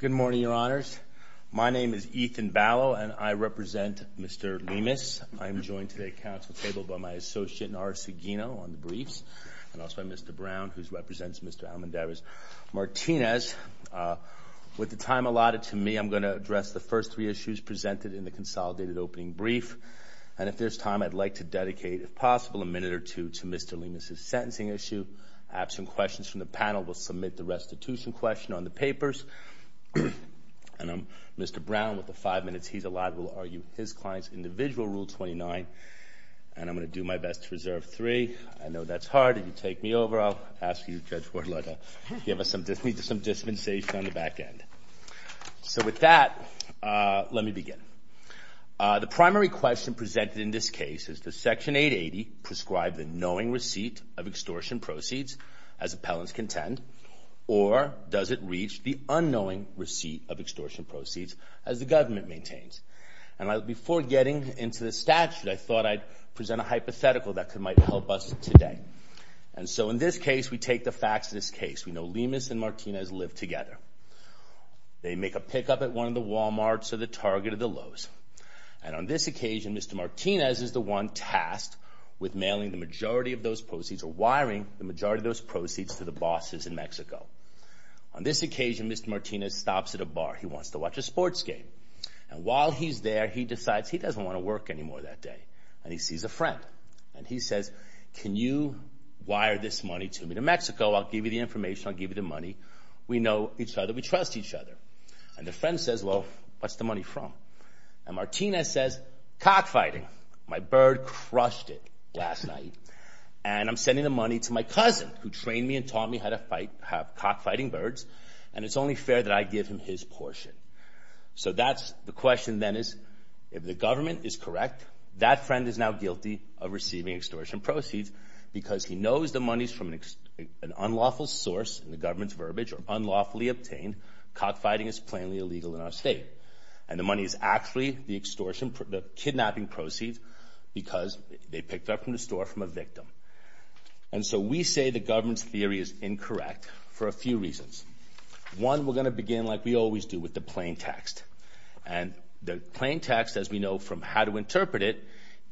Good morning, Your Honors. My name is Ethan Ballow, and I represent Mr. Lemus. I'm joined today at council table by my associate, Nara Seguino, on the briefs, and also by Mr. Brown, who represents Mr. Almendarez-Martinez. With the time allotted to me, I'm going to address the first three issues presented in the consolidated opening brief. And if there's time, I'd like to dedicate, if possible, a minute or two to Mr. Lemus's sentencing issue. Absent questions from the panel will submit the restitution question on the papers. And Mr. Brown, with the five minutes he's allowed, will argue his client's individual Rule 29. And I'm sure that's hard, and you take me over. I'll ask you, Judge Ward, to give us some dispensation on the back end. So with that, let me begin. The primary question presented in this case is, does Section 880 prescribe the knowing receipt of extortion proceeds as appellants contend, or does it reach the unknowing receipt of extortion proceeds as the government maintains? And before getting into the statute, I thought I'd present a And so in this case, we take the facts of this case. We know Lemus and Martinez live together. They make a pickup at one of the Walmarts or the Target of the Lowe's. And on this occasion, Mr. Martinez is the one tasked with mailing the majority of those proceeds or wiring the majority of those proceeds to the bosses in Mexico. On this occasion, Mr. Martinez stops at a bar. He wants to watch a sports game. And while he's there, he decides he doesn't want to work anymore that day. And he sees a friend. And he says, can you wire this money to me to Mexico? I'll give you the information. I'll give you the money. We know each other. We trust each other. And the friend says, well, what's the money from? And Martinez says, cockfighting. My bird crushed it last night. And I'm sending the money to my cousin, who trained me and taught me how to fight cockfighting birds. And it's only fair that I give him his portion. So that's the question, then, is if the government is correct, that friend is now guilty of receiving extortion proceeds because he knows the money is from an unlawful source. And the government's verbiage, unlawfully obtained, cockfighting is plainly illegal in our state. And the money is actually the extortion, the kidnapping proceeds because they picked up from the store from a victim. And so we say the government's verbiage is incorrect for a few reasons. One, we're going to begin like we always do with the plain text. And the plain text, as we know from how to interpret it,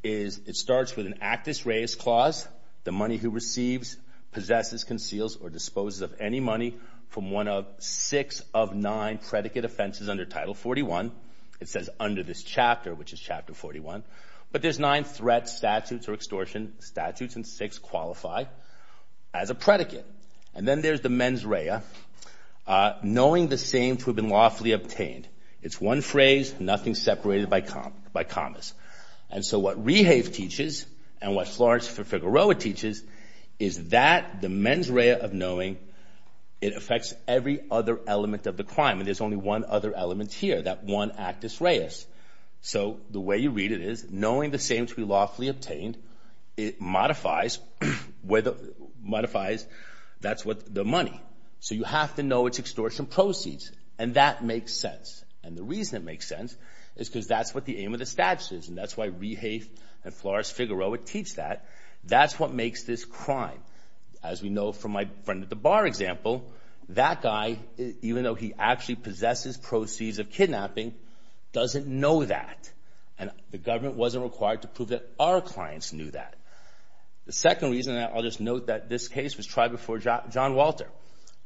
is it starts with an actus reus clause. The money who receives, possesses, conceals, or disposes of any money from one of six of nine predicate offenses under Title 41. It says under this chapter, which is Chapter 41. But there's nine threat statutes or extortion statutes. And six qualify as a predicate. And then there's the mens rea, knowing the same to have been lawfully obtained. It's one phrase, nothing separated by commas. And so what Rehave teaches and what Florence Figueroa teaches is that the mens rea of knowing, it affects every other element of the crime. And there's only one other element here, that one actus reus. So the way you read it is, knowing the same to be lawfully obtained, it modifies the money. So you have to know it's extortion proceeds. And that makes sense. And the reason it makes sense is because that's what the aim of the statute is. And that's why Rehave and Florence Figueroa teach that. That's what makes this crime. As we know from my friend at the bar example, that guy, even though he actually possesses proceeds of kidnapping, doesn't know that. And the government wasn't required to prove that our clients knew that. The second reason, and I'll just note that this case was tried before John Walter,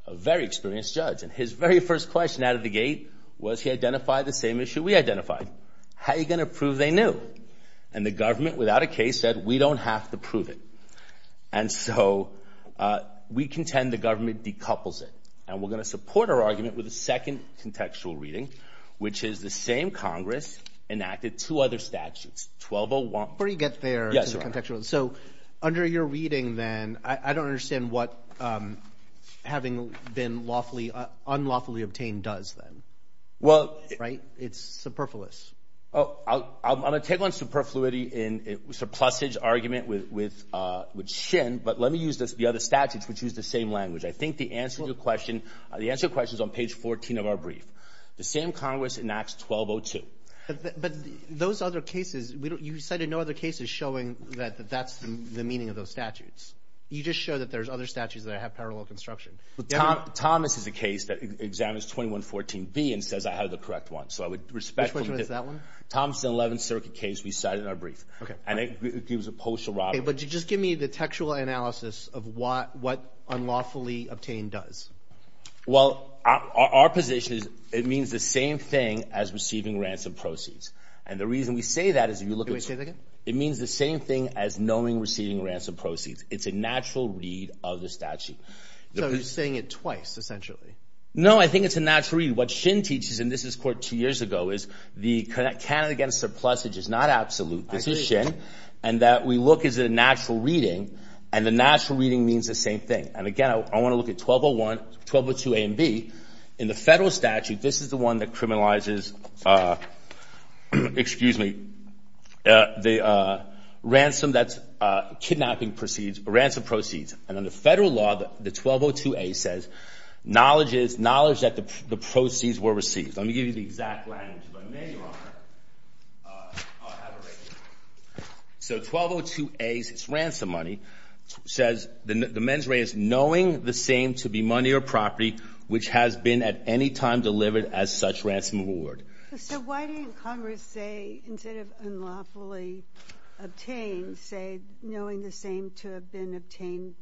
a very experienced judge. And his very first question out of the gate was, he identified the same issue we identified. How are you going to prove they knew? And the government, without a case, said we don't have to prove it. And so we contend the government decouples it. And we're the same Congress enacted two other statutes, 1201. Before you get there, so under your reading then, I don't understand what having been lawfully, unlawfully obtained does then. Well, right. It's superfluous. Oh, I'm going to take on superfluity in surplusage argument with Shin, but let me use this, the other statutes, which use the same language. I think the answer to your question, the answer to your question is on page 14 of our brief. The same Congress enacts 1202. But those other cases, you cited no other cases showing that that's the meaning of those statutes. You just show that there's other statutes that have parallel construction. Thomas is a case that examines 2114B and says I have the correct one. So I would respect which one is that one? Thomas 11th Circuit case we cited in our brief. And it gives a postal robbery. But just give me the textual analysis of what unlawfully obtained does. Well, our position is it means the same thing as receiving ransom proceeds. And the reason we say that is if you look at it, it means the same thing as knowing receiving ransom proceeds. It's a natural read of the statute. So you're saying it twice, essentially. No, I think it's a natural read. What Shin teaches, and this is court two years ago, is the canon against surplusage is not absolute. This is Shin. And that we look as a natural reading and the natural reading means the same thing. And again, I want to look at 1201 A and B. In the federal statute, this is the one that criminalizes, excuse me, the ransom proceeds. And under federal law, the 1202 A says, knowledge that the proceeds were received. Let me give you the exact language. If I may, Your Honor, I'll have it right here. So 1202 A, it's ransom money, says the mens rea is knowing the same to be money or property which has been at any time delivered as such ransom of award. So why didn't Congress say instead of unlawfully obtained, say knowing the same to have been obtained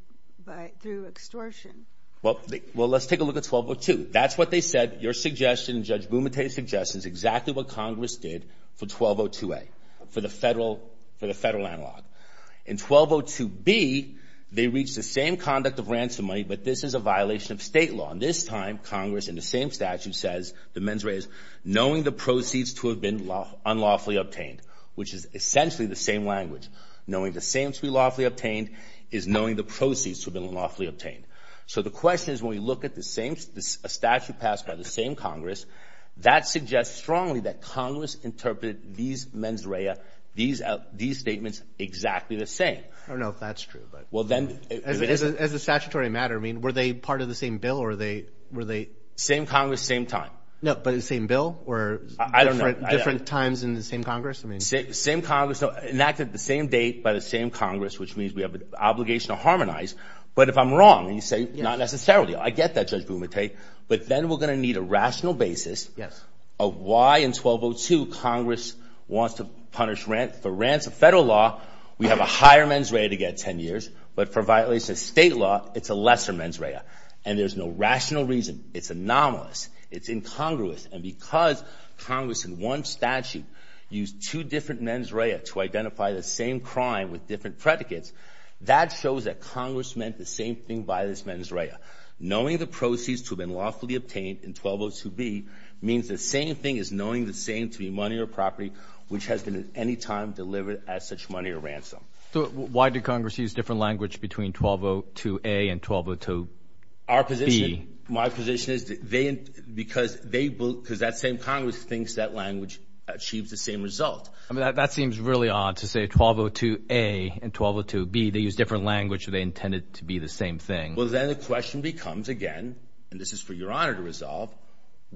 through extortion? Well, let's take a look at 1202. That's what they said. Your suggestion, Judge Bumate's suggestion is exactly what Congress did for 1202 A, for the federal analog. In 1202 B, they reached the same conduct of ransom money, but this is a violation of state law. And this time, Congress in the same statute says, the mens rea is knowing the proceeds to have been unlawfully obtained, which is essentially the same language. Knowing the same to be lawfully obtained is knowing the proceeds to have been unlawfully obtained. So the question is when we look at the same statute passed by the same Congress, that suggests strongly that Congress interpreted these mens rea, these statements exactly the same. I don't know if that's true, but- Well, then- As a statutory matter, I mean, were they part of the same bill or were they- Same Congress, same time. No, but the same bill or different times in the same Congress? I mean- Same Congress, so enacted at the same date by the same Congress, which means we have an obligation to harmonize. But if I'm wrong and you say, not necessarily, I get that, rational basis of why in 1202 Congress wants to punish for rants of federal law, we have a higher mens rea to get 10 years, but for violation of state law, it's a lesser mens rea. And there's no rational reason. It's anomalous. It's incongruous. And because Congress in one statute used two different mens rea to identify the same crime with different predicates, that shows that Congress meant the same thing by this mens rea. Knowing the proceeds to have been lawfully obtained in 1202B means the same thing as knowing the same to be money or property, which has been at any time delivered as such money or ransom. So why did Congress use different language between 1202A and 1202B? Our position, my position is that they, because they, because that same Congress thinks that language achieves the same result. I mean, that seems really odd to say 1202A and 1202B, they use different language. They intended to be the same thing. Well, then the question becomes again, and this is for your honor to resolve,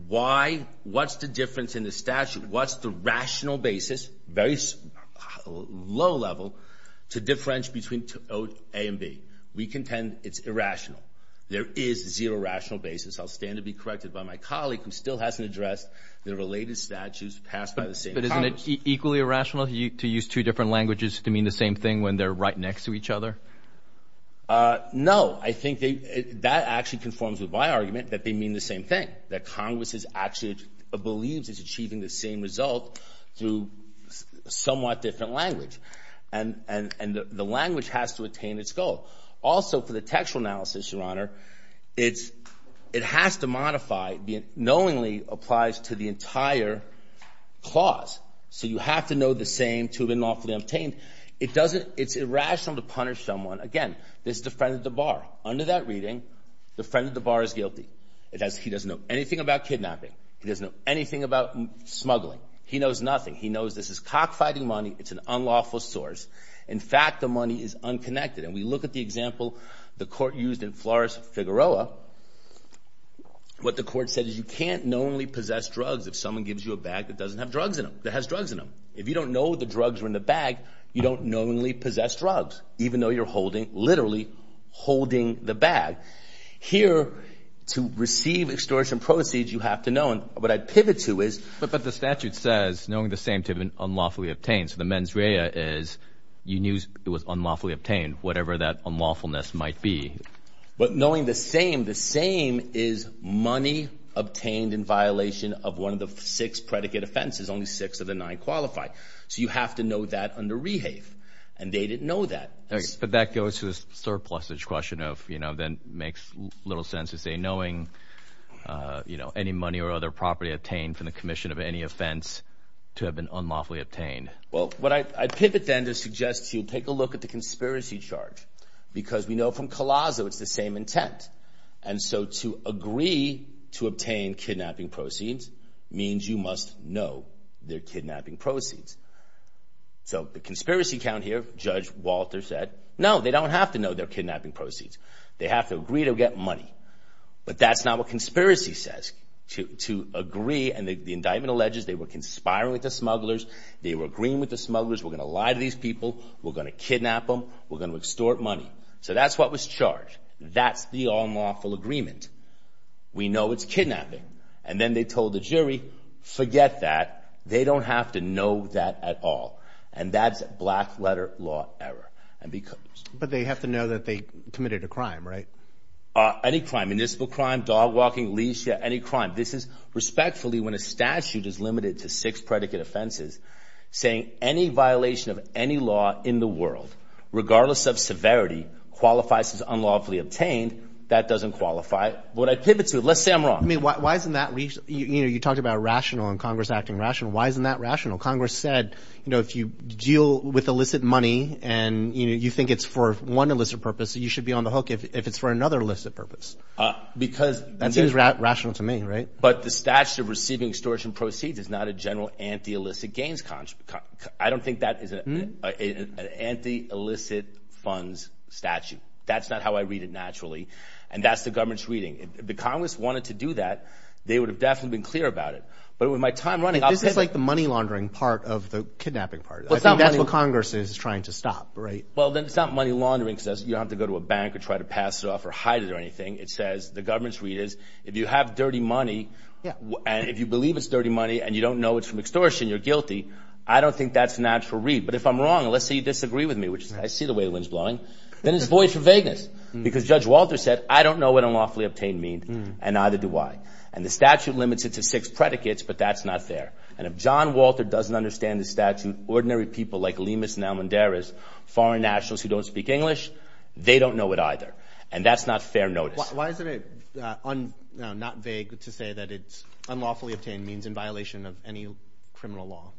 why, what's the difference in the statute? What's the rational basis, very low level, to differentiate between 1202A and 1202B? We contend it's irrational. There is zero rational basis. I'll stand to be corrected by my colleague who still hasn't addressed the related statutes passed by the same Congress. But isn't it equally irrational to use two different languages to mean the same thing when they're right next to each other? No, I think that actually conforms with my argument that they mean the same thing. That Congress is actually, believes it's achieving the same result through somewhat different language. And the language has to attain its goal. Also, for the textual analysis, your honor, it has to modify, knowingly applies to the entire clause. So you have to know the same to have been lawfully obtained. It's irrational to punish someone. Again, this is the friend at the bar. Under that reading, the friend at the bar is guilty. He doesn't know anything about kidnapping. He doesn't know anything about smuggling. He knows nothing. He knows this is cockfighting money. It's an unlawful source. In fact, the money is unconnected. And we look at the example the court used in Flores Figueroa. What the court said is you can't knowingly possess drugs if someone gives you a bag that doesn't have drugs in them, that has drugs in them. If you don't know the drugs are in the bag, you don't knowingly possess drugs, even though you're holding, literally holding the bag. Here, to receive extortion proceeds, you have to know. And what I'd pivot to is. But the statute says knowing the same to have been unlawfully obtained. So the mens rea is you knew it was unlawfully obtained, whatever that unlawfulness might be. But knowing the same, the same is money obtained in violation of one of the six predicate offenses, only six of the nine qualify. So you have to know that under rehave. And they didn't know that. But that goes to this surplusage question of, you know, then makes little sense to say knowing, you know, any money or other property obtained from the commission of any offense to have been unlawfully obtained. Well, what I'd pivot then to suggest to you, take a look at the conspiracy charge, because we know from Collazo it's the same intent. And so to agree to obtain kidnapping proceeds means you must know they're kidnapping proceeds. So the conspiracy count here, Judge Walter said, no, they don't have to know they're kidnapping proceeds. They have to agree to get money. But that's not what conspiracy says to agree. And the indictment alleges they were conspiring with the smugglers. They were agreeing with the smugglers. We're going to lie to these people. We're going to kidnap them. We're going to extort money. So that's what was charged. That's the unlawful agreement. We know it's kidnapping. And then they told the jury, forget that. They don't have to know that at all. And that's a black letter law error. But they have to know that they committed a crime, right? Any crime, municipal crime, dog walking, leash, any crime. This is respectfully when a statute is limited to six predicate offenses saying any violation of any law in the world, regardless of severity, qualifies as unlawfully obtained. That doesn't qualify what I pivot to. Let's say I'm wrong. I mean, why isn't that reason? You know, you talked about rational and Congress acting rational. Why isn't that rational? Congress said, you know, if you deal with illicit money and you think it's for one illicit purpose, you should be on the hook if it's for another illicit purpose. Because that seems rational to me, right? But the statute of receiving extortion proceeds is not a general anti-illicit gains. I don't think that is an anti-illicit funds statute. That's not how I read it naturally. And that's the government's reading. The Congress wanted to do that. They would have definitely been clear about it. But with my time running, this is like the money laundering part of the kidnapping part. I think that's what Congress is trying to stop, right? Well, then it's not money laundering says you have to go to a bank or try to pass it off or hide it or anything. I don't think that's natural read. But if I'm wrong, let's say you disagree with me, which I see the way the wind's blowing, then it's void for vagueness because Judge Walter said, I don't know what unlawfully obtained means and neither do I. And the statute limits it to six predicates, but that's not fair. And if John Walter doesn't understand the statute, ordinary people like Lemus and Almond Daris, foreign nationals who don't speak English, they don't know it either. And that's not fair notice. Why isn't it not vague to say that it's unlawfully obtained means in violation of any criminal law?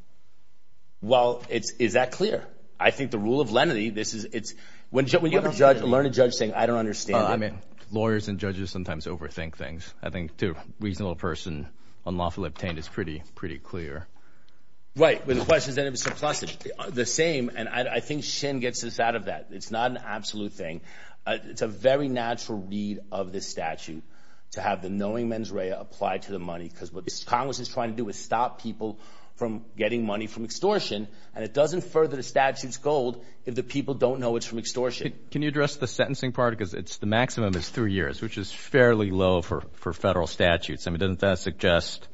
Well, it's is that clear? I think the rule of lenity, this is it's when you have a judge, a learned judge saying, I don't understand. I mean, lawyers and judges sometimes overthink things. I think two reasonable person unlawfully obtained is pretty, pretty clear. Right. But the question is, and it was the same. And I think Shin gets this out of that. It's not an absolute thing. It's a very natural read of the statute to have the knowing mens rea apply to the money because what Congress is trying to do is stop people from getting money from extortion. And it doesn't further the statute's gold if the people don't know it's from extortion. Can you address the sentencing part? Because it's the maximum is three years, which is fairly low for federal statutes. I mean, doesn't that suggest,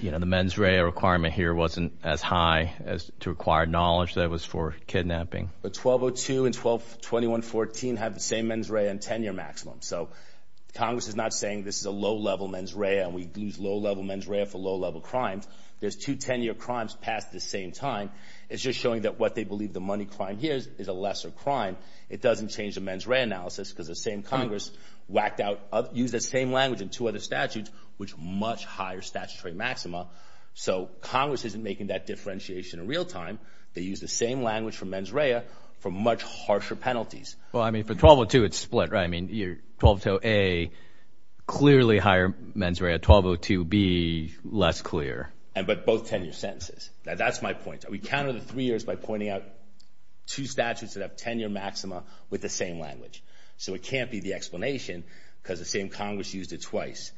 you know, the mens rea requirement here wasn't as high as to require knowledge that was for kidnapping. But 1202 and 1221-14 have the same mens rea and tenure maximum. So Congress is not saying this is a low-level mens rea and we lose low-level mens rea for low-level crimes. There's two tenure crimes passed at the same time. It's just showing that what they believe the money crime here is a lesser crime. It doesn't change the mens rea analysis because the same Congress used the same language in two other statutes, which much higher statutory maxima. So Congress isn't making that differentiation in real time. They use the same language for mens rea for much harsher penalties. Well, I mean, for 1202, it's split, right? 1202-A, clearly higher mens rea. 1202-B, less clear. But both tenure sentences. That's my point. We counter the three years by pointing out two statutes that have tenure maxima with the same language. So it can't be the explanation because the same Congress used it twice.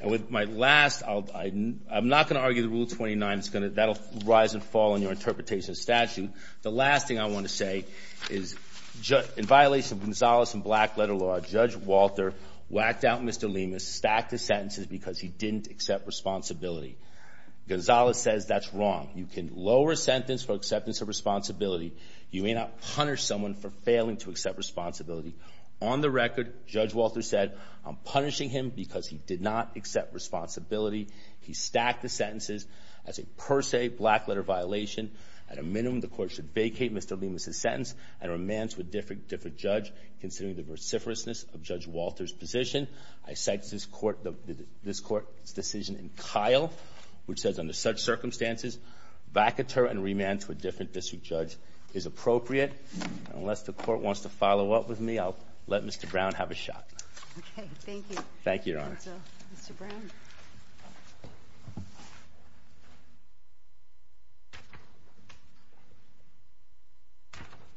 And with my last, I'm not going to argue the Rule 29. That'll rise and fall in your interpretation of statute. The last thing I want to say is, in violation of Gonzalez and black letter law, Judge Walter whacked out Mr. Lemus, stacked his sentences because he didn't accept responsibility. Gonzalez says that's wrong. You can lower a sentence for acceptance of responsibility. You may not punish someone for failing to accept responsibility. On the record, Judge Walter said, I'm punishing him because he did not accept responsibility. He stacked the sentences as a per se black letter violation. At a minimum, the court should vacate Mr. Lemus' sentence and remand to a different judge, considering the vociferousness of Judge Walter's position. I cite this court's decision in Kyle, which says, under such circumstances, vacateur and remand to a different district judge is appropriate. Unless the court wants to follow up with me, I'll let Mr. Brown have a shot. Okay. Thank you. Thank you, Your Honor. Mr. Brown.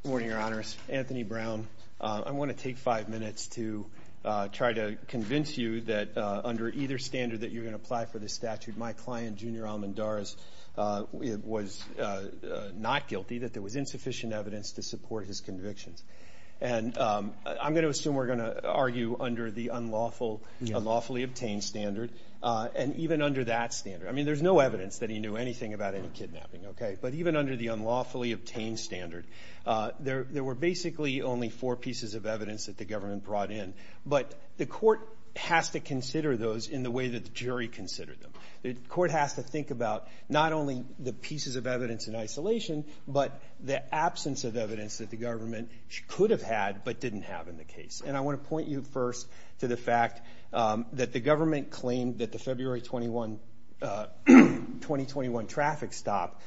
Good morning, Your Honors. Anthony Brown. I want to take five minutes to try to convince you that, under either standard that you're going to apply for this statute, my client, Junior Almendarez, was not guilty, that there was insufficient evidence to support his convictions. And I'm going to assume we're going to argue under the unlawfully obtained standard. And even under that standard, I mean, there's no evidence that he knew anything about any kidnapping, okay? But even under the unlawfully obtained standard, there were basically only four pieces of evidence that the government brought in. But the court has to consider those in the way that the jury considered them. The court has to think about not only the pieces of evidence in isolation, but the absence of evidence that the government could have had but didn't have in the case. And I want to point you first to the fact that the government claimed that the February 21, 2021 traffic stop,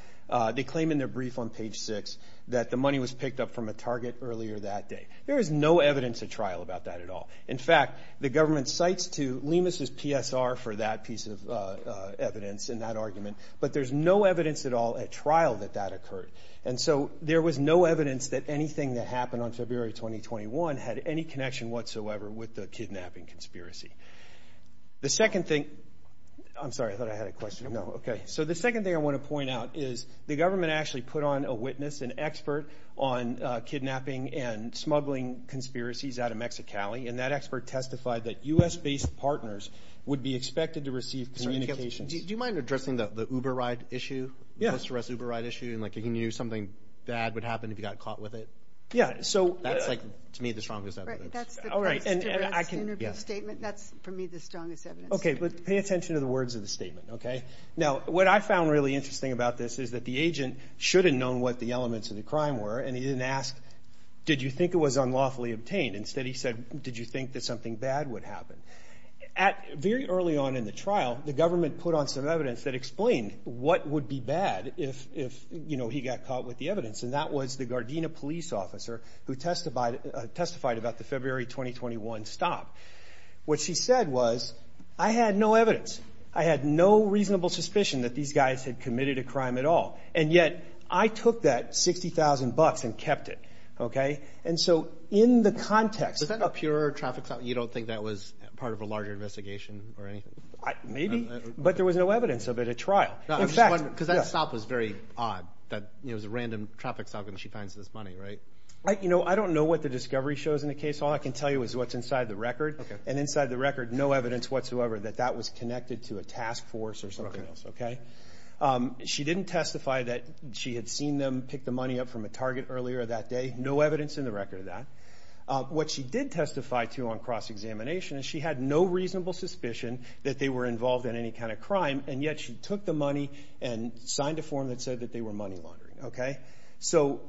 they claim in their brief on page six that the money was picked up from a target earlier that day. There is no evidence at trial about that at all. In fact, the government cites to Lemus's PSR for that piece of evidence in that argument. But there's no evidence at all at trial that that occurred. And so there was no evidence that anything that happened on February 2021 had any connection whatsoever with the kidnapping conspiracy. The second thing, I'm sorry, I thought I had a question. No, okay. So the second thing I want to point out is the government actually put on a witness, an expert on kidnapping and smuggling conspiracies out of Mexicali. And that expert testified that U.S. based partners would be expected to receive communications. Do you mind addressing the Uber ride issue? Yes, the Uber ride issue and like you knew something bad would happen if you got caught with it. Yeah. So that's like, to me, the strongest evidence. That's all right. And I can get a statement. That's for me, the strongest evidence. Okay. But pay attention to the words of the statement. Okay. Now, what I found really interesting about this is that the agent should have known what the elements of the crime were. And he didn't ask, did you think it was unlawfully obtained? Instead, he said, did you think that something bad would happen? At very early on in the trial, the government put on some evidence that explained what would be bad if he got caught with the evidence. And that was the Gardena police officer who testified about the February 2021 stop. What she said was, I had no evidence. I had no reasonable suspicion that these guys had committed a crime at all. And yet I took that 60,000 bucks and kept it. Okay. And so in the context- Is that a pure traffic stop? You don't think that was part of a larger investigation or anything? Maybe. But there was no evidence of it at trial. Because that stop was very odd. That it was a random traffic stop and she finds this money, right? I don't know what the discovery shows in the case. All I can tell you is what's inside the record. And inside the record, no evidence whatsoever that that was connected to a task force or something else. She didn't testify that she had seen them pick the money up from a target earlier that day. No evidence in the record of that. What she did testify to on cross-examination is she had no reasonable suspicion that they were involved in any kind of crime. And yet she took the money and signed a form that said that they were money laundering. Okay. So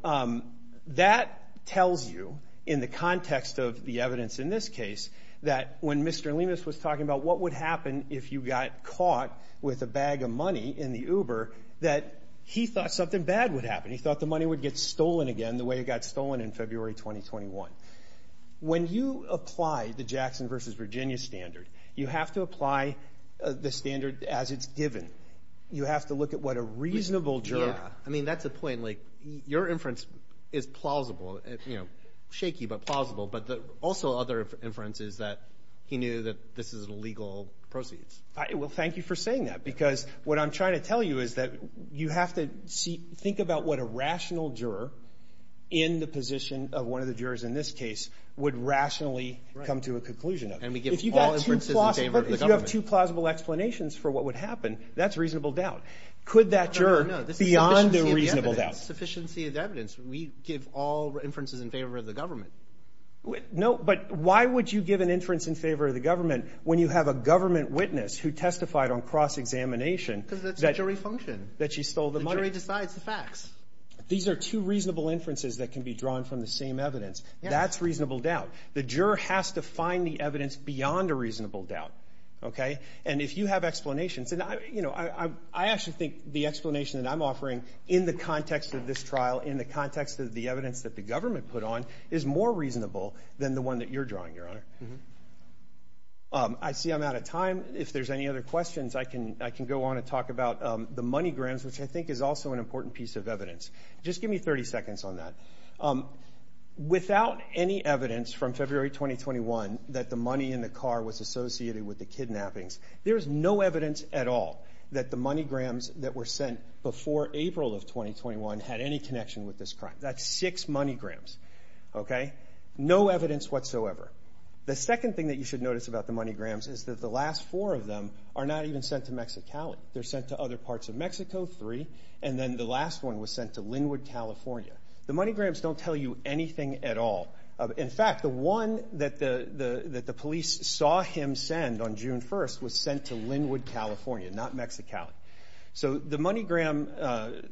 that tells you, in the context of the evidence in this case, that when Mr. Lemus was talking about what would happen if you got caught with a bag of money in the Uber, that he thought something bad would happen. He thought the money would get stolen again the way it got stolen in February 2021. When you apply the Jackson versus Virginia standard, you have to apply the standard as it's given. You have to look at what a reasonable juror— I mean, that's the point. Like, your inference is plausible. You know, shaky, but plausible. But also other inferences that he knew that this is illegal proceeds. Well, thank you for saying that. Because what I'm trying to tell you is that you have to think about what a rational juror in the position of one of the jurors in this case would rationally come to a conclusion of. And we give all inferences in favor of the government. You have two plausible explanations for what would happen. That's reasonable doubt. Could that juror, beyond a reasonable doubt— Sufficiency of evidence. We give all inferences in favor of the government. No, but why would you give an inference in favor of the government when you have a government witness who testified on cross-examination— Because that's a jury function. That she stole the money. The jury decides the facts. These are two reasonable inferences that can be drawn from the same evidence. That's reasonable doubt. The juror has to find the evidence beyond a reasonable doubt. And if you have explanations— And I actually think the explanation that I'm offering in the context of this trial, in the context of the evidence that the government put on, is more reasonable than the one that you're drawing, Your Honor. I see I'm out of time. If there's any other questions, I can go on and talk about the money grams, which I think is also an important piece of evidence. Just give me 30 seconds on that. Without any evidence from February 2021 that the money in the car was associated with the kidnappings, there's no evidence at all that the money grams that were sent before April of 2021 had any connection with this crime. That's six money grams, okay? No evidence whatsoever. The second thing that you should notice about the money grams is that the last four of them are not even sent to Mexicali. They're sent to other parts of Mexico, three, and then the last one was sent to Linwood, California. The money grams don't tell you anything at all. In fact, the one that the police saw him send on June 1st was sent to Linwood, California, not Mexicali. So the money gram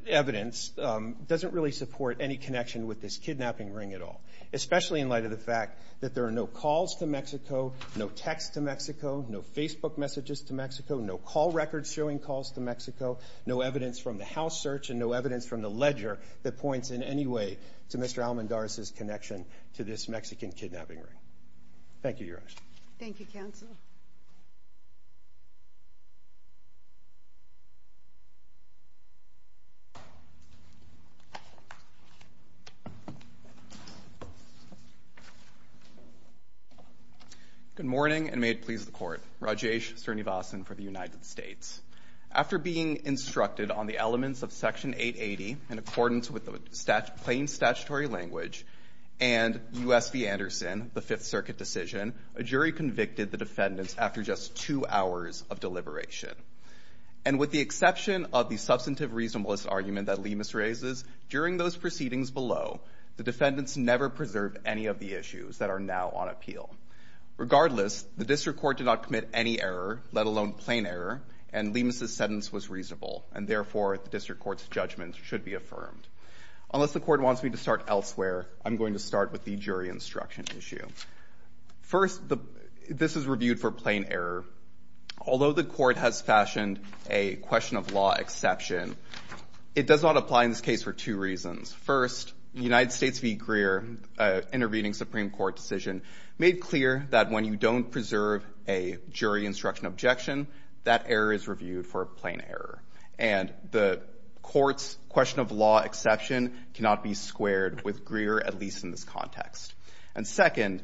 evidence doesn't really support any connection with this kidnapping ring at all, especially in light of the fact that there are no calls to Mexico, no texts to Mexico, no Facebook messages to Mexico, no call records showing calls to Mexico, no evidence from the house search, no evidence from the ledger that points in any way to Mr. Almendarez's connection to this Mexican kidnapping ring. Thank you, Your Honor. Thank you, counsel. Good morning, and may it please the court. Rajesh Srinivasan for the United States. After being instructed on the elements of Section 880, in accordance with the plain statutory language, and U.S. v. Anderson, the Fifth Circuit decision, a jury convicted the defendants after just two hours of deliberation. And with the exception of the substantive reasonableness argument that Lemus raises, during those proceedings below, the defendants never preserved any of the issues that are now on appeal. Regardless, the district court did not commit any error, let alone plain error, and Lemus's sentence was reasonable. And therefore, the district court's judgment should be affirmed. Unless the court wants me to start elsewhere, I'm going to start with the jury instruction issue. First, this is reviewed for plain error. Although the court has fashioned a question of law exception, it does not apply in this case for two reasons. First, United States v. Greer, intervening Supreme Court decision, made clear that when you don't preserve a jury instruction objection, that error is reviewed for a plain error. And the court's question of law exception cannot be squared with Greer, at least in this context. And second,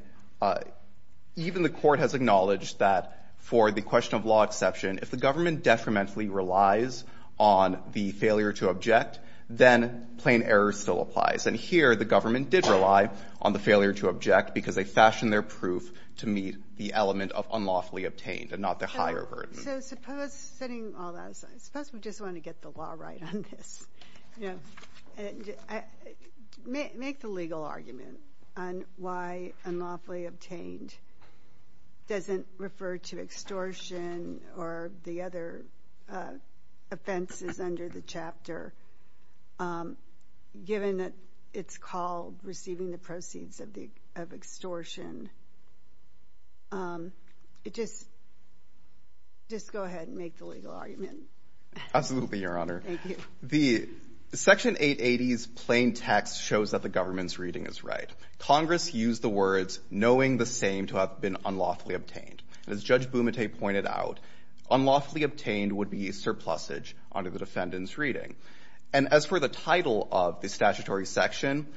even the court has acknowledged that for the question of law exception, if the government detrimentally relies on the failure to object, then plain error still applies. And here, the government did rely on the failure to object because they fashioned their proof to meet the element of unlawfully obtained, and not the higher burden. So suppose, setting all that aside, suppose we just want to get the law right on this. Yeah. Make the legal argument on why unlawfully obtained um, given that it's called receiving the proceeds of the extortion. Um, it just, just go ahead and make the legal argument. Absolutely, Your Honor. Thank you. The Section 880's plain text shows that the government's reading is right. Congress used the words, knowing the same to have been unlawfully obtained. As Judge Bumate pointed out, And as for the title of the statutory section,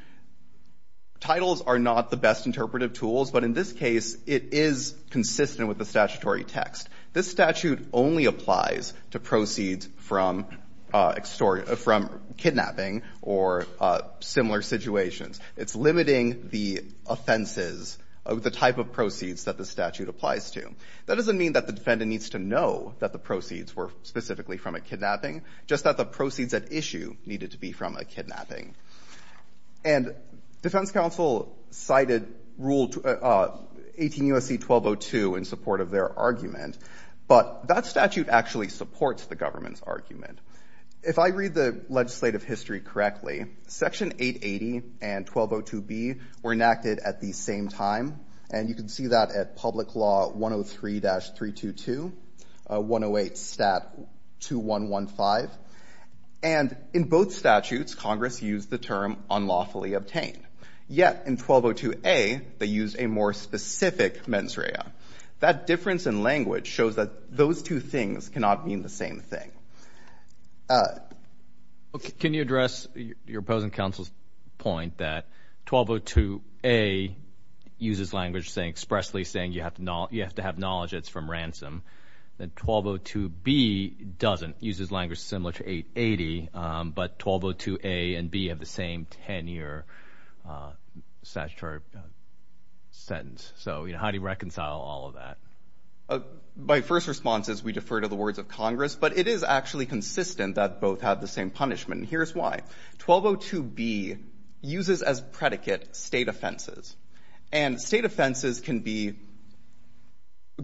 titles are not the best interpretive tools, but in this case, it is consistent with the statutory text. This statute only applies to proceeds from, uh, extort, from kidnapping or, uh, similar situations. It's limiting the offenses of the type of proceeds that the statute applies to. That doesn't mean that the defendant needs to know that the proceeds were specifically from a kidnapping, just that the proceeds at issue needed to be from a kidnapping. And Defense Counsel cited Rule, uh, 18 U.S.C. 1202 in support of their argument, but that statute actually supports the government's argument. If I read the legislative history correctly, Section 880 and 1202B were enacted at the same time, and you can see that at Public Law 103-322, uh, 108 Stat 2115. And in both statutes, Congress used the term unlawfully obtained. Yet in 1202A, they used a more specific mens rea. That difference in language shows that those two things cannot mean the same thing. Uh, can you address your opposing counsel's point that saying you have to know, you have to have knowledge that's from ransom, that 1202B doesn't, uses language similar to 880, um, but 1202A and B have the same 10-year, uh, statutory, uh, sentence. So, you know, how do you reconcile all of that? Uh, my first response is we defer to the words of Congress, but it is actually consistent that both have the same punishment. And here's why. 1202B uses as predicate state offenses. And state offenses can be,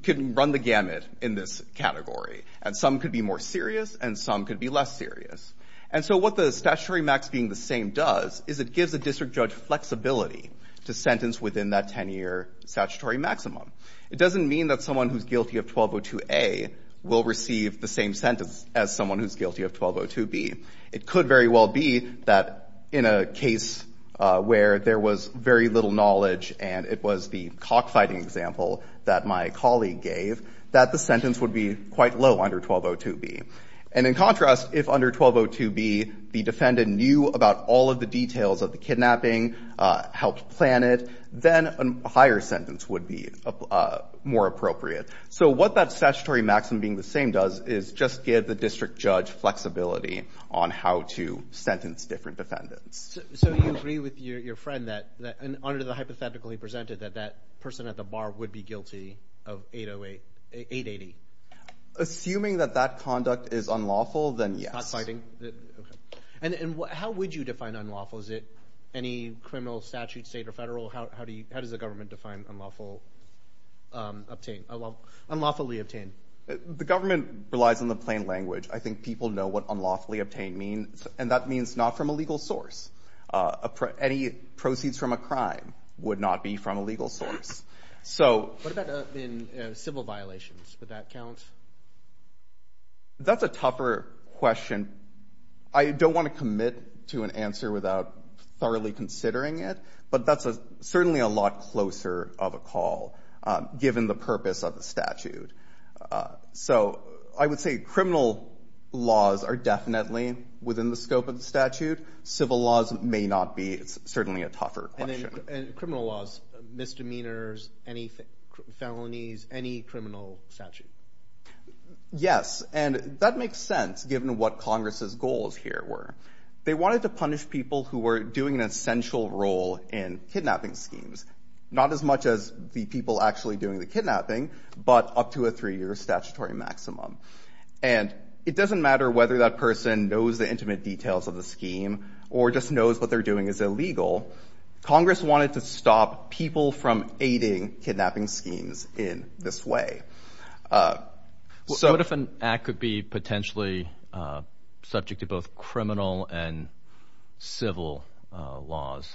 can run the gamut in this category. And some could be more serious, and some could be less serious. And so what the statutory max being the same does is it gives a district judge flexibility to sentence within that 10-year statutory maximum. It doesn't mean that someone who's guilty of 1202A will receive the same sentence as someone who's guilty of 1202B. It could very well be that in a case, uh, where there was very little knowledge, and it was the cockfighting example that my colleague gave, that the sentence would be quite low under 1202B. And in contrast, if under 1202B, the defendant knew about all of the details of the kidnapping, uh, helped plan it, then a higher sentence would be, uh, more appropriate. So what that statutory maximum being the same does is just give the district judge flexibility on how to sentence different defendants. So, so you agree with your, your friend that, that under the hypothetical he presented, that that person at the bar would be guilty of 808, 880? Assuming that that conduct is unlawful, then yes. Cockfighting? Okay. And, and how would you define unlawful? Is it any criminal statute, state or federal? How, how do you, how does the government define unlawful, um, obtain, unlawfully obtain? The government relies on the plain language. I think people know what unlawfully obtain means, and that means not from a legal source. Any proceeds from a crime would not be from a legal source. So... What about in civil violations? Would that count? That's a tougher question. I don't want to commit to an answer without thoroughly considering it, but that's certainly a lot closer of a call, given the purpose of the statute. So I would say criminal laws are definitely within the scope of the statute. Civil laws may not be. It's certainly a tougher question. And criminal laws, misdemeanors, any felonies, any criminal statute? Yes, and that makes sense, given what Congress's goals here were. They wanted to punish people who were doing an essential role in kidnapping schemes. Not as much as the people actually doing the kidnapping, but up to a three-year statutory maximum. And it doesn't matter whether that person knows the intimate details of the scheme or just knows what they're doing is illegal. Congress wanted to stop people from aiding kidnapping schemes in this way. So what if an act could be potentially subject to both criminal and civil laws?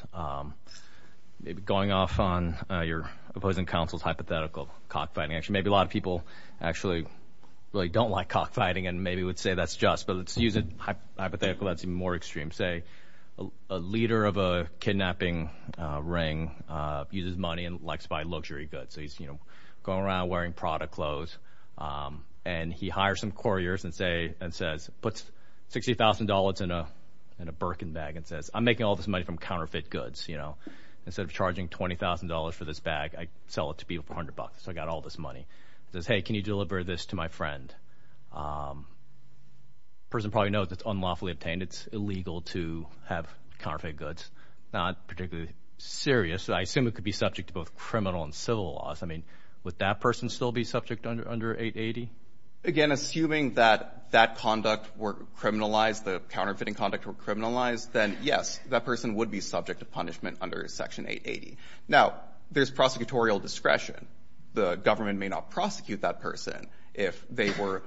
Maybe going off on your opposing counsel's hypothetical, cockfighting. Actually, maybe a lot of people actually really don't like cockfighting and maybe would say that's just, but let's use a hypothetical that's even more extreme. Say a leader of a kidnapping ring uses money and likes to buy luxury goods. So he's going around wearing product clothes and he hires some couriers and says, puts $60,000 in a Birkin bag and says, I'm making all this money from counterfeit goods. Instead of charging $20,000 for this bag, I sell it to people for a hundred bucks. So I got all this money. It says, hey, can you deliver this to my friend? The person probably knows it's unlawfully obtained. It's illegal to have counterfeit goods, not particularly serious. I assume it could be subject to both criminal and civil laws. I mean, would that person still be subject under 880? Again, assuming that that conduct were criminalized, the counterfeiting conduct were criminalized, then yes, that person would be subject to punishment under section 880. Now there's prosecutorial discretion. The government may not prosecute that person if they were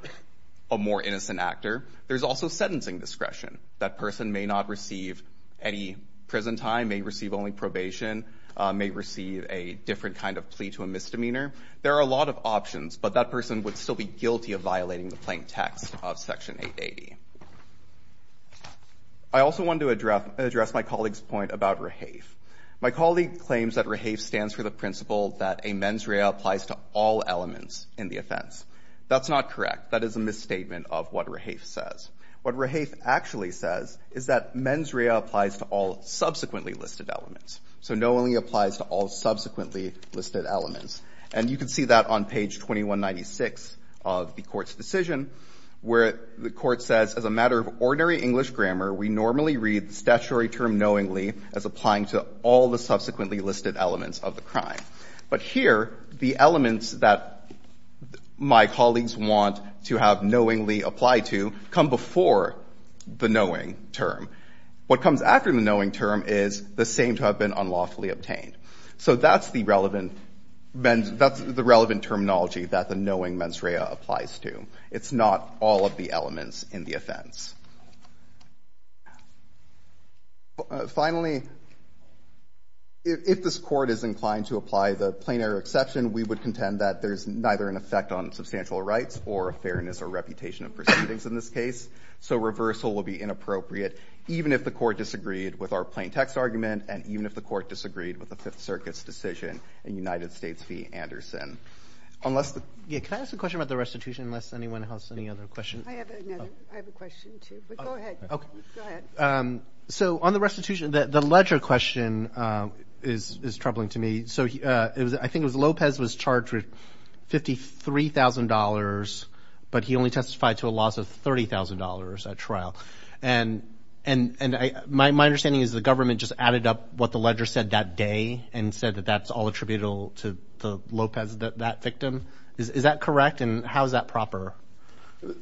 a more innocent actor. There's also sentencing discretion. That person may not receive any prison time, may receive only probation, may receive a different kind of plea to a misdemeanor. There are a lot of options, but that person would still be guilty of violating the plain text of section 880. I also wanted to address my colleague's point about Rahafe. My colleague claims that Rahafe stands for the principle that a mens rea applies to all elements in the offense. That's not correct. That is a misstatement of what Rahafe says. What Rahafe actually says is that mens rea applies to all subsequently listed elements. So knowingly applies to all subsequently listed elements. And you can see that on page 2196 of the court's decision, where the court says, as a matter of ordinary English grammar, we normally read statutory term knowingly as applying to all the subsequently listed elements of the crime. But here, the elements that my colleagues want to have knowingly apply to come before the knowing term. What comes after the knowing term is the same to have been unlawfully obtained. So that's the relevant terminology that the knowing mens rea applies to. It's not all of the elements in the offense. Finally, if this court is inclined to apply the plain error exception, we would contend that there's neither an effect on substantial rights or fairness or reputation of proceedings in this case. So reversal will be inappropriate, even if the court disagreed with our plain text argument, and even if the court disagreed with the Fifth Circuit's decision in United States v. Anderson. Unless the- Yeah, can I ask a question about the restitution, unless anyone has any other questions? I have another. I have a question. Go ahead, go ahead. So on the restitution, the Ledger question is troubling to me. So I think it was Lopez was charged with $53,000, but he only testified to a loss of $30,000 at trial. And my understanding is the government just added up what the Ledger said that day and said that that's all attributed to the Lopez, that victim. Is that correct? And how is that proper?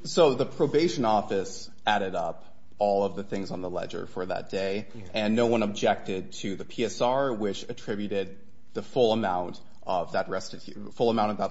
So the probation office added up all of the things on the Ledger for that day, and no one objected to the PSR, which attributed the full amount of that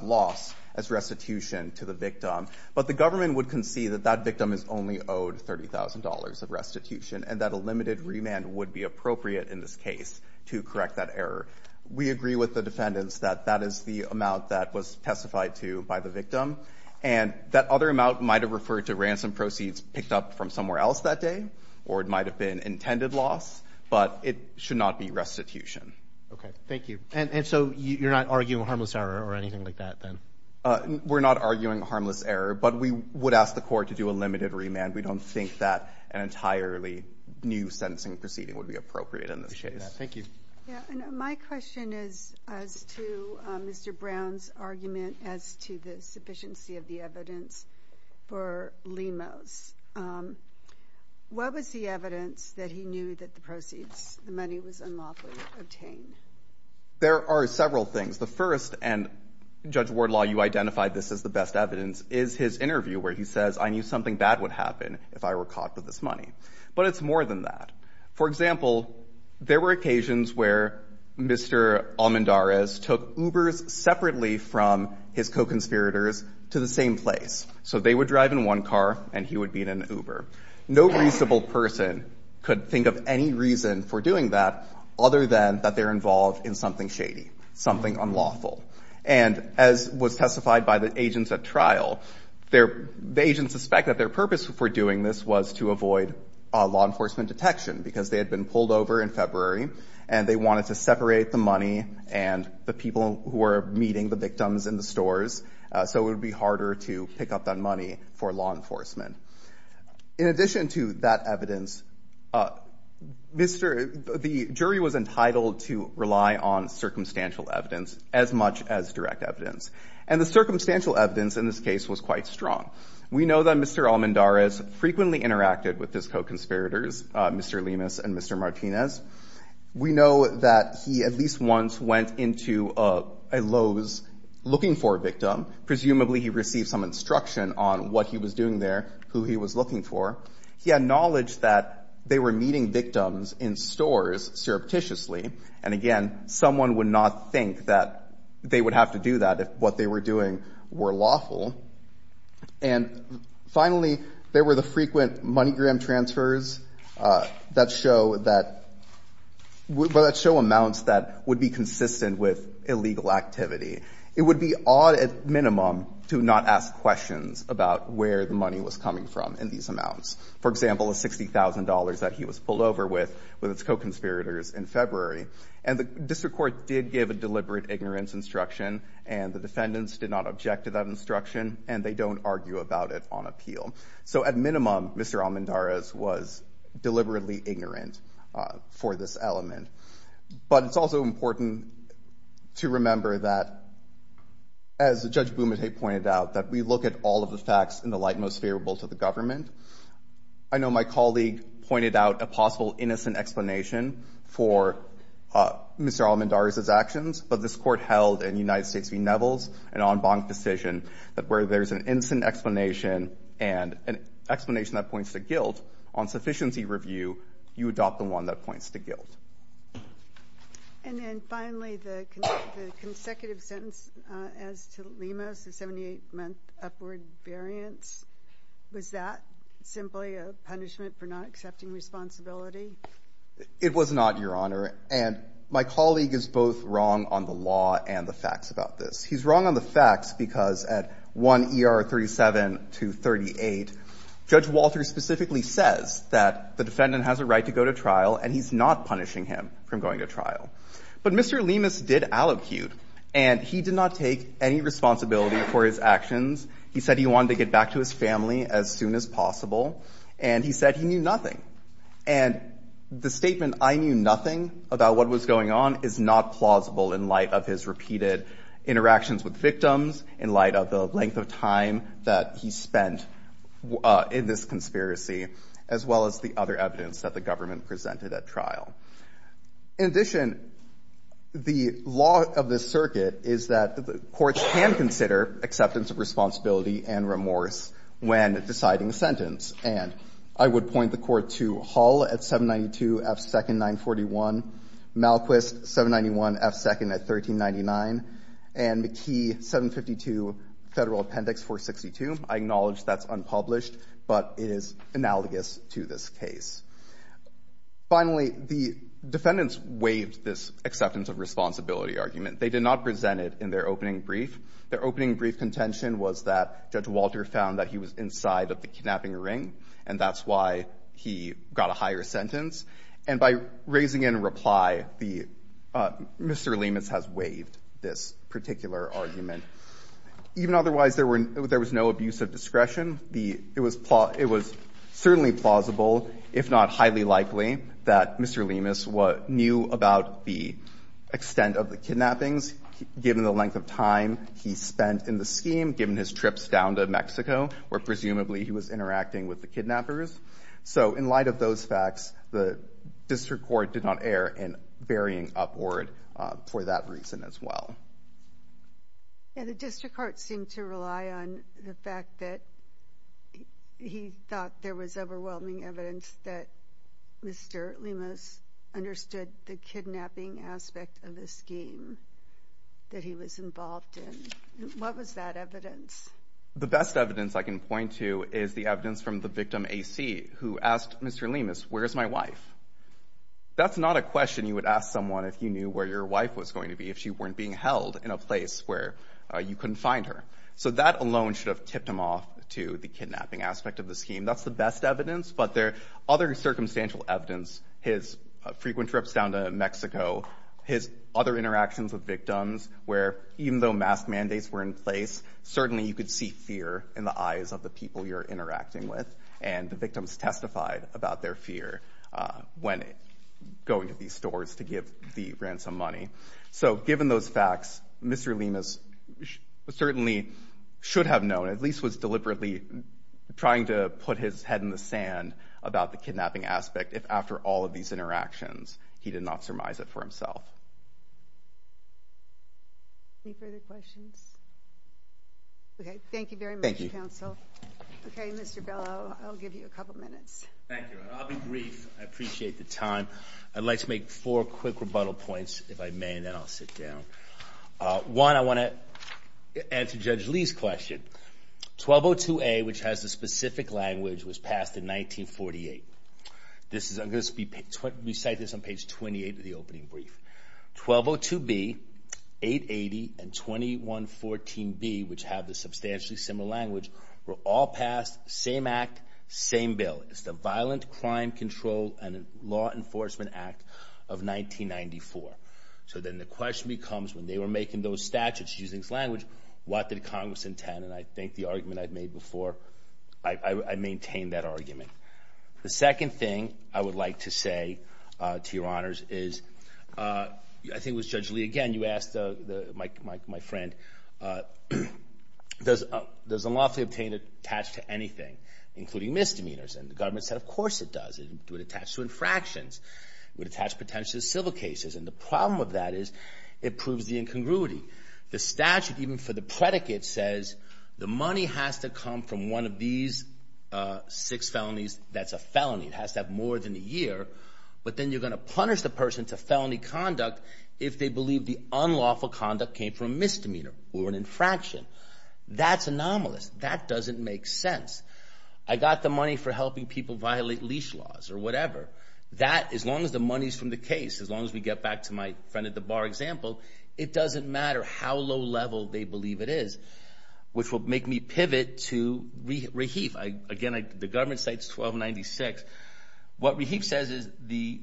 loss as restitution to the victim. But the government would concede that that victim is only owed $30,000 of restitution, and that a limited remand would be appropriate in this case to correct that error. We agree with the defendants that that is the amount that was testified to by the victim. And that other amount might have referred to ransom proceeds picked up from somewhere else that day, or it might've been intended loss, but it should not be restitution. Okay, thank you. And so you're not arguing a harmless error or anything like that then? We're not arguing a harmless error, but we would ask the court to do a limited remand. We don't think that an entirely new sentencing proceeding would be appropriate in this case. Thank you. Yeah, and my question is as to Mr. Brown's argument as to the sufficiency of the evidence for Lemos. What was the evidence that he knew that the proceeds, the money was unlawfully obtained? There are several things. The first, and Judge Wardlaw, you identified this as the best evidence, is his interview where he says, I knew something bad would happen if I were caught with this money. But it's more than that. For example, there were occasions where Mr. Almendarez took Ubers separately from his co-conspirators to the same place. So they would drive in one car, and he would be in an Uber. No reasonable person could think of any reason for doing that other than that they're involved in something shady, something unlawful. And as was testified by the agents at trial, the agents suspect that their purpose for doing this was to avoid law enforcement detection because they had been pulled over in February and they wanted to separate the money and the people who were meeting the victims in the stores. So it would be harder to pick up that money for law enforcement. In addition to that evidence, the jury was entitled to rely on circumstantial evidence as much as direct evidence. And the circumstantial evidence in this case was quite strong. We know that Mr. Almendarez frequently interacted with his co-conspirators, Mr. Lemus and Mr. Martinez. We know that he at least once went into a Lowe's looking for a victim. Presumably, he received some instruction on what he was doing there, who he was looking for. He had knowledge that they were meeting victims in stores surreptitiously. And again, someone would not think that they would have to do that if what they were doing were lawful. And finally, there were the frequent MoneyGram transfers that show amounts that would be consistent with illegal activity. It would be odd at minimum to not ask questions about where the money was coming from in these amounts. For example, a $60,000 that he was pulled over with with his co-conspirators in February. And the district court did give a deliberate ignorance instruction and the defendants did not object to that instruction and they don't argue about it on appeal. So at minimum, Mr. Almendarez was deliberately ignorant for this element. But it's also important to remember that as Judge Bumate pointed out, that we look at all of the facts in the light most favorable to the government. I know my colleague pointed out a possible innocent explanation for Mr. Almendarez's actions, but this court held in United States v. Nevels an en banc decision that where there's an innocent explanation and an explanation that points to guilt, on sufficiency review, you adopt the one that points to guilt. And then finally, the consecutive sentence as to Lemos, the 78-month upward variance, was that simply a punishment for not accepting responsibility? It was not, Your Honor. And my colleague is both wrong on the law and the facts about this. He's wrong on the facts because at 1 ER 37 to 38, Judge Walter specifically says that the defendant has a right to go to trial and he's not punishing him from going to trial. But Mr. Lemos did allocute and he did not take any responsibility for his actions. He said he wanted to get back to his family as soon as possible. And he said he knew nothing. And the statement, I knew nothing about what was going on is not plausible in light of his repeated interactions with victims, in light of the length of time that he spent in this conspiracy, as well as the other evidence that the government presented at trial. In addition, the law of this circuit is that the courts can consider acceptance of responsibility and remorse when deciding a sentence. And I would point the court to Hull at 792 F 2nd 941, Malquist 791 F 2nd at 1399 and McKee 752 Federal Appendix 462. I acknowledge that's unpublished, but it is analogous to this case. Finally, the defendants waived this acceptance of responsibility argument. They did not present it in their opening brief. Their opening brief contention was that Judge Walter found that he was inside of the kidnapping ring and that's why he got a higher sentence. And by raising in reply, Mr. Lemus has waived this particular argument. Even otherwise, there was no abuse of discretion. It was certainly plausible, if not highly likely, that Mr. Lemus knew about the extent of the kidnappings given the length of time he spent in the scheme, given his trips down to Mexico, where presumably he was interacting with the kidnappers. So in light of those facts, the district court did not err in burying upward for that reason as well. Yeah, the district court seemed to rely on the fact that he thought there was overwhelming evidence that Mr. Lemus understood the kidnapping aspect of the scheme that he was involved in. What was that evidence? The best evidence I can point to is the evidence from the victim, A.C., who asked Mr. Lemus, where's my wife? That's not a question you would ask someone if you knew where your wife was going to be, if she weren't being held in a place where you couldn't find her. So that alone should have tipped him off to the kidnapping aspect of the scheme. That's the best evidence. But there are other circumstantial evidence, his frequent trips down to Mexico, his other interactions with victims, where even though mask mandates were in place, certainly you could see fear in the eyes of the people you're interacting with. And the victims testified about their fear when going to these stores to give the ransom money. So given those facts, Mr. Lemus certainly should have known, at least was deliberately trying to put his head in the sand about the kidnapping aspect if after all of these interactions he did not surmise it for himself. Any further questions? Okay, thank you very much, counsel. Okay, Mr. Bell, I'll give you a couple minutes. Thank you. I'll be brief. I appreciate the time. I'd like to make four quick rebuttal points, if I may, and then I'll sit down. One, I want to answer Judge Lee's question. 1202A, which has the specific language, was passed in 1948. This is, I'm going to recite this on page 28 of the opening brief. 1202B, 880, and 2114B, which have the substantially similar language, were all passed, same act, same bill. It's the Violent Crime Control and Law Enforcement Act of 1994. So then the question becomes, when they were making those statutes using this language, what did Congress intend? And I think the argument I've made before, I maintain that argument. The second thing I would like to say to your honors is, I think it was Judge Lee again, you asked my friend, does unlawfully obtained attach to anything, including misdemeanors? And the government said, of course it does. It would attach to infractions. It would attach potentially to civil cases. And the problem with that is, it proves the incongruity. The statute, even for the predicate, says the money has to come from one of these six felonies. That's a felony. It has to have more than a year. But then you're going to punish the person to felony conduct if they believe the unlawful conduct came from misdemeanor or an infraction. That's anomalous. That doesn't make sense. I got the money for helping people violate leash laws or whatever. That, as long as the money's from the case, as long as we get back to my friend at the bar example, it doesn't matter how low level they believe it is, which will make me pivot to Rahif. Again, the government cites 1296. What Rahif says is, the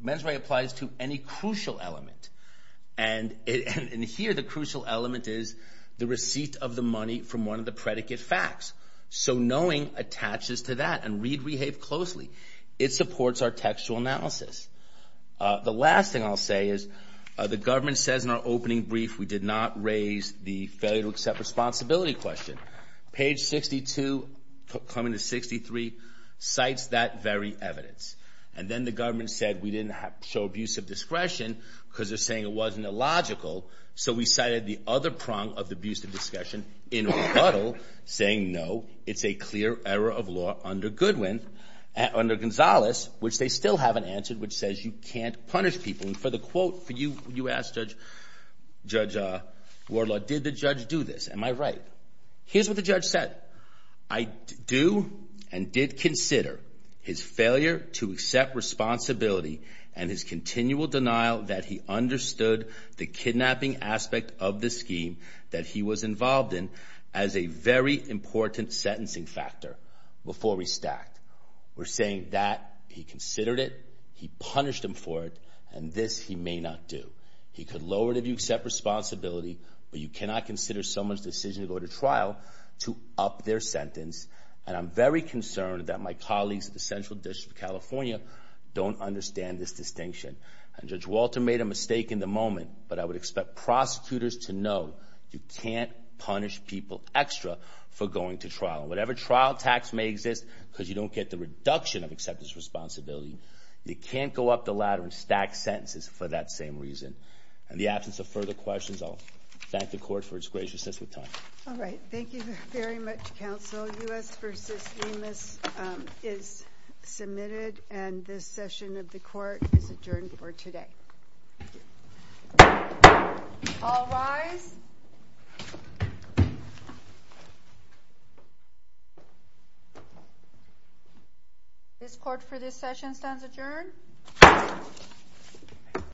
men's right applies to any crucial element. And here, the crucial element is the receipt of the money from one of the predicate facts. So knowing attaches to that. And read Rehave closely. It supports our textual analysis. The last thing I'll say is, the government says in our opening brief we did not raise the failure to accept responsibility question. Page 62, coming to 63, cites that very evidence. And then the government said we didn't show abuse of discretion because they're saying it wasn't illogical. So we cited the other prong of the abuse of discussion in rebuttal, saying no, it's a clear error of law under Goodwin, under Gonzalez, which they still haven't answered, which says you can't punish people. And for the quote for you, you asked Judge Wardlaw, did the judge do this? Am I right? Here's what the judge said. I do and did consider his failure to accept responsibility and his continual denial that he understood the kidnapping aspect of the scheme that he was involved in as a very important sentencing factor before we stacked. We're saying that he considered it, he punished him for it, and this he may not do. He could lower the view, accept responsibility, but you cannot consider someone's decision to go to trial to up their sentence. And I'm very concerned that my colleagues at the Central District of California don't understand this distinction. And Judge Walter made a mistake in the moment, but I would expect prosecutors to know you can't punish people extra for going to trial. Whatever trial tax may exist, because you don't get the reduction of acceptance responsibility, you can't go up the ladder and stack sentences for that same reason. In the absence of further questions, I'll thank the court for its graciousness with time. All right. Thank you very much, counsel. U.S. v. Lemus is submitted and this session of the court is adjourned for today. All rise. This court for this session stands adjourned.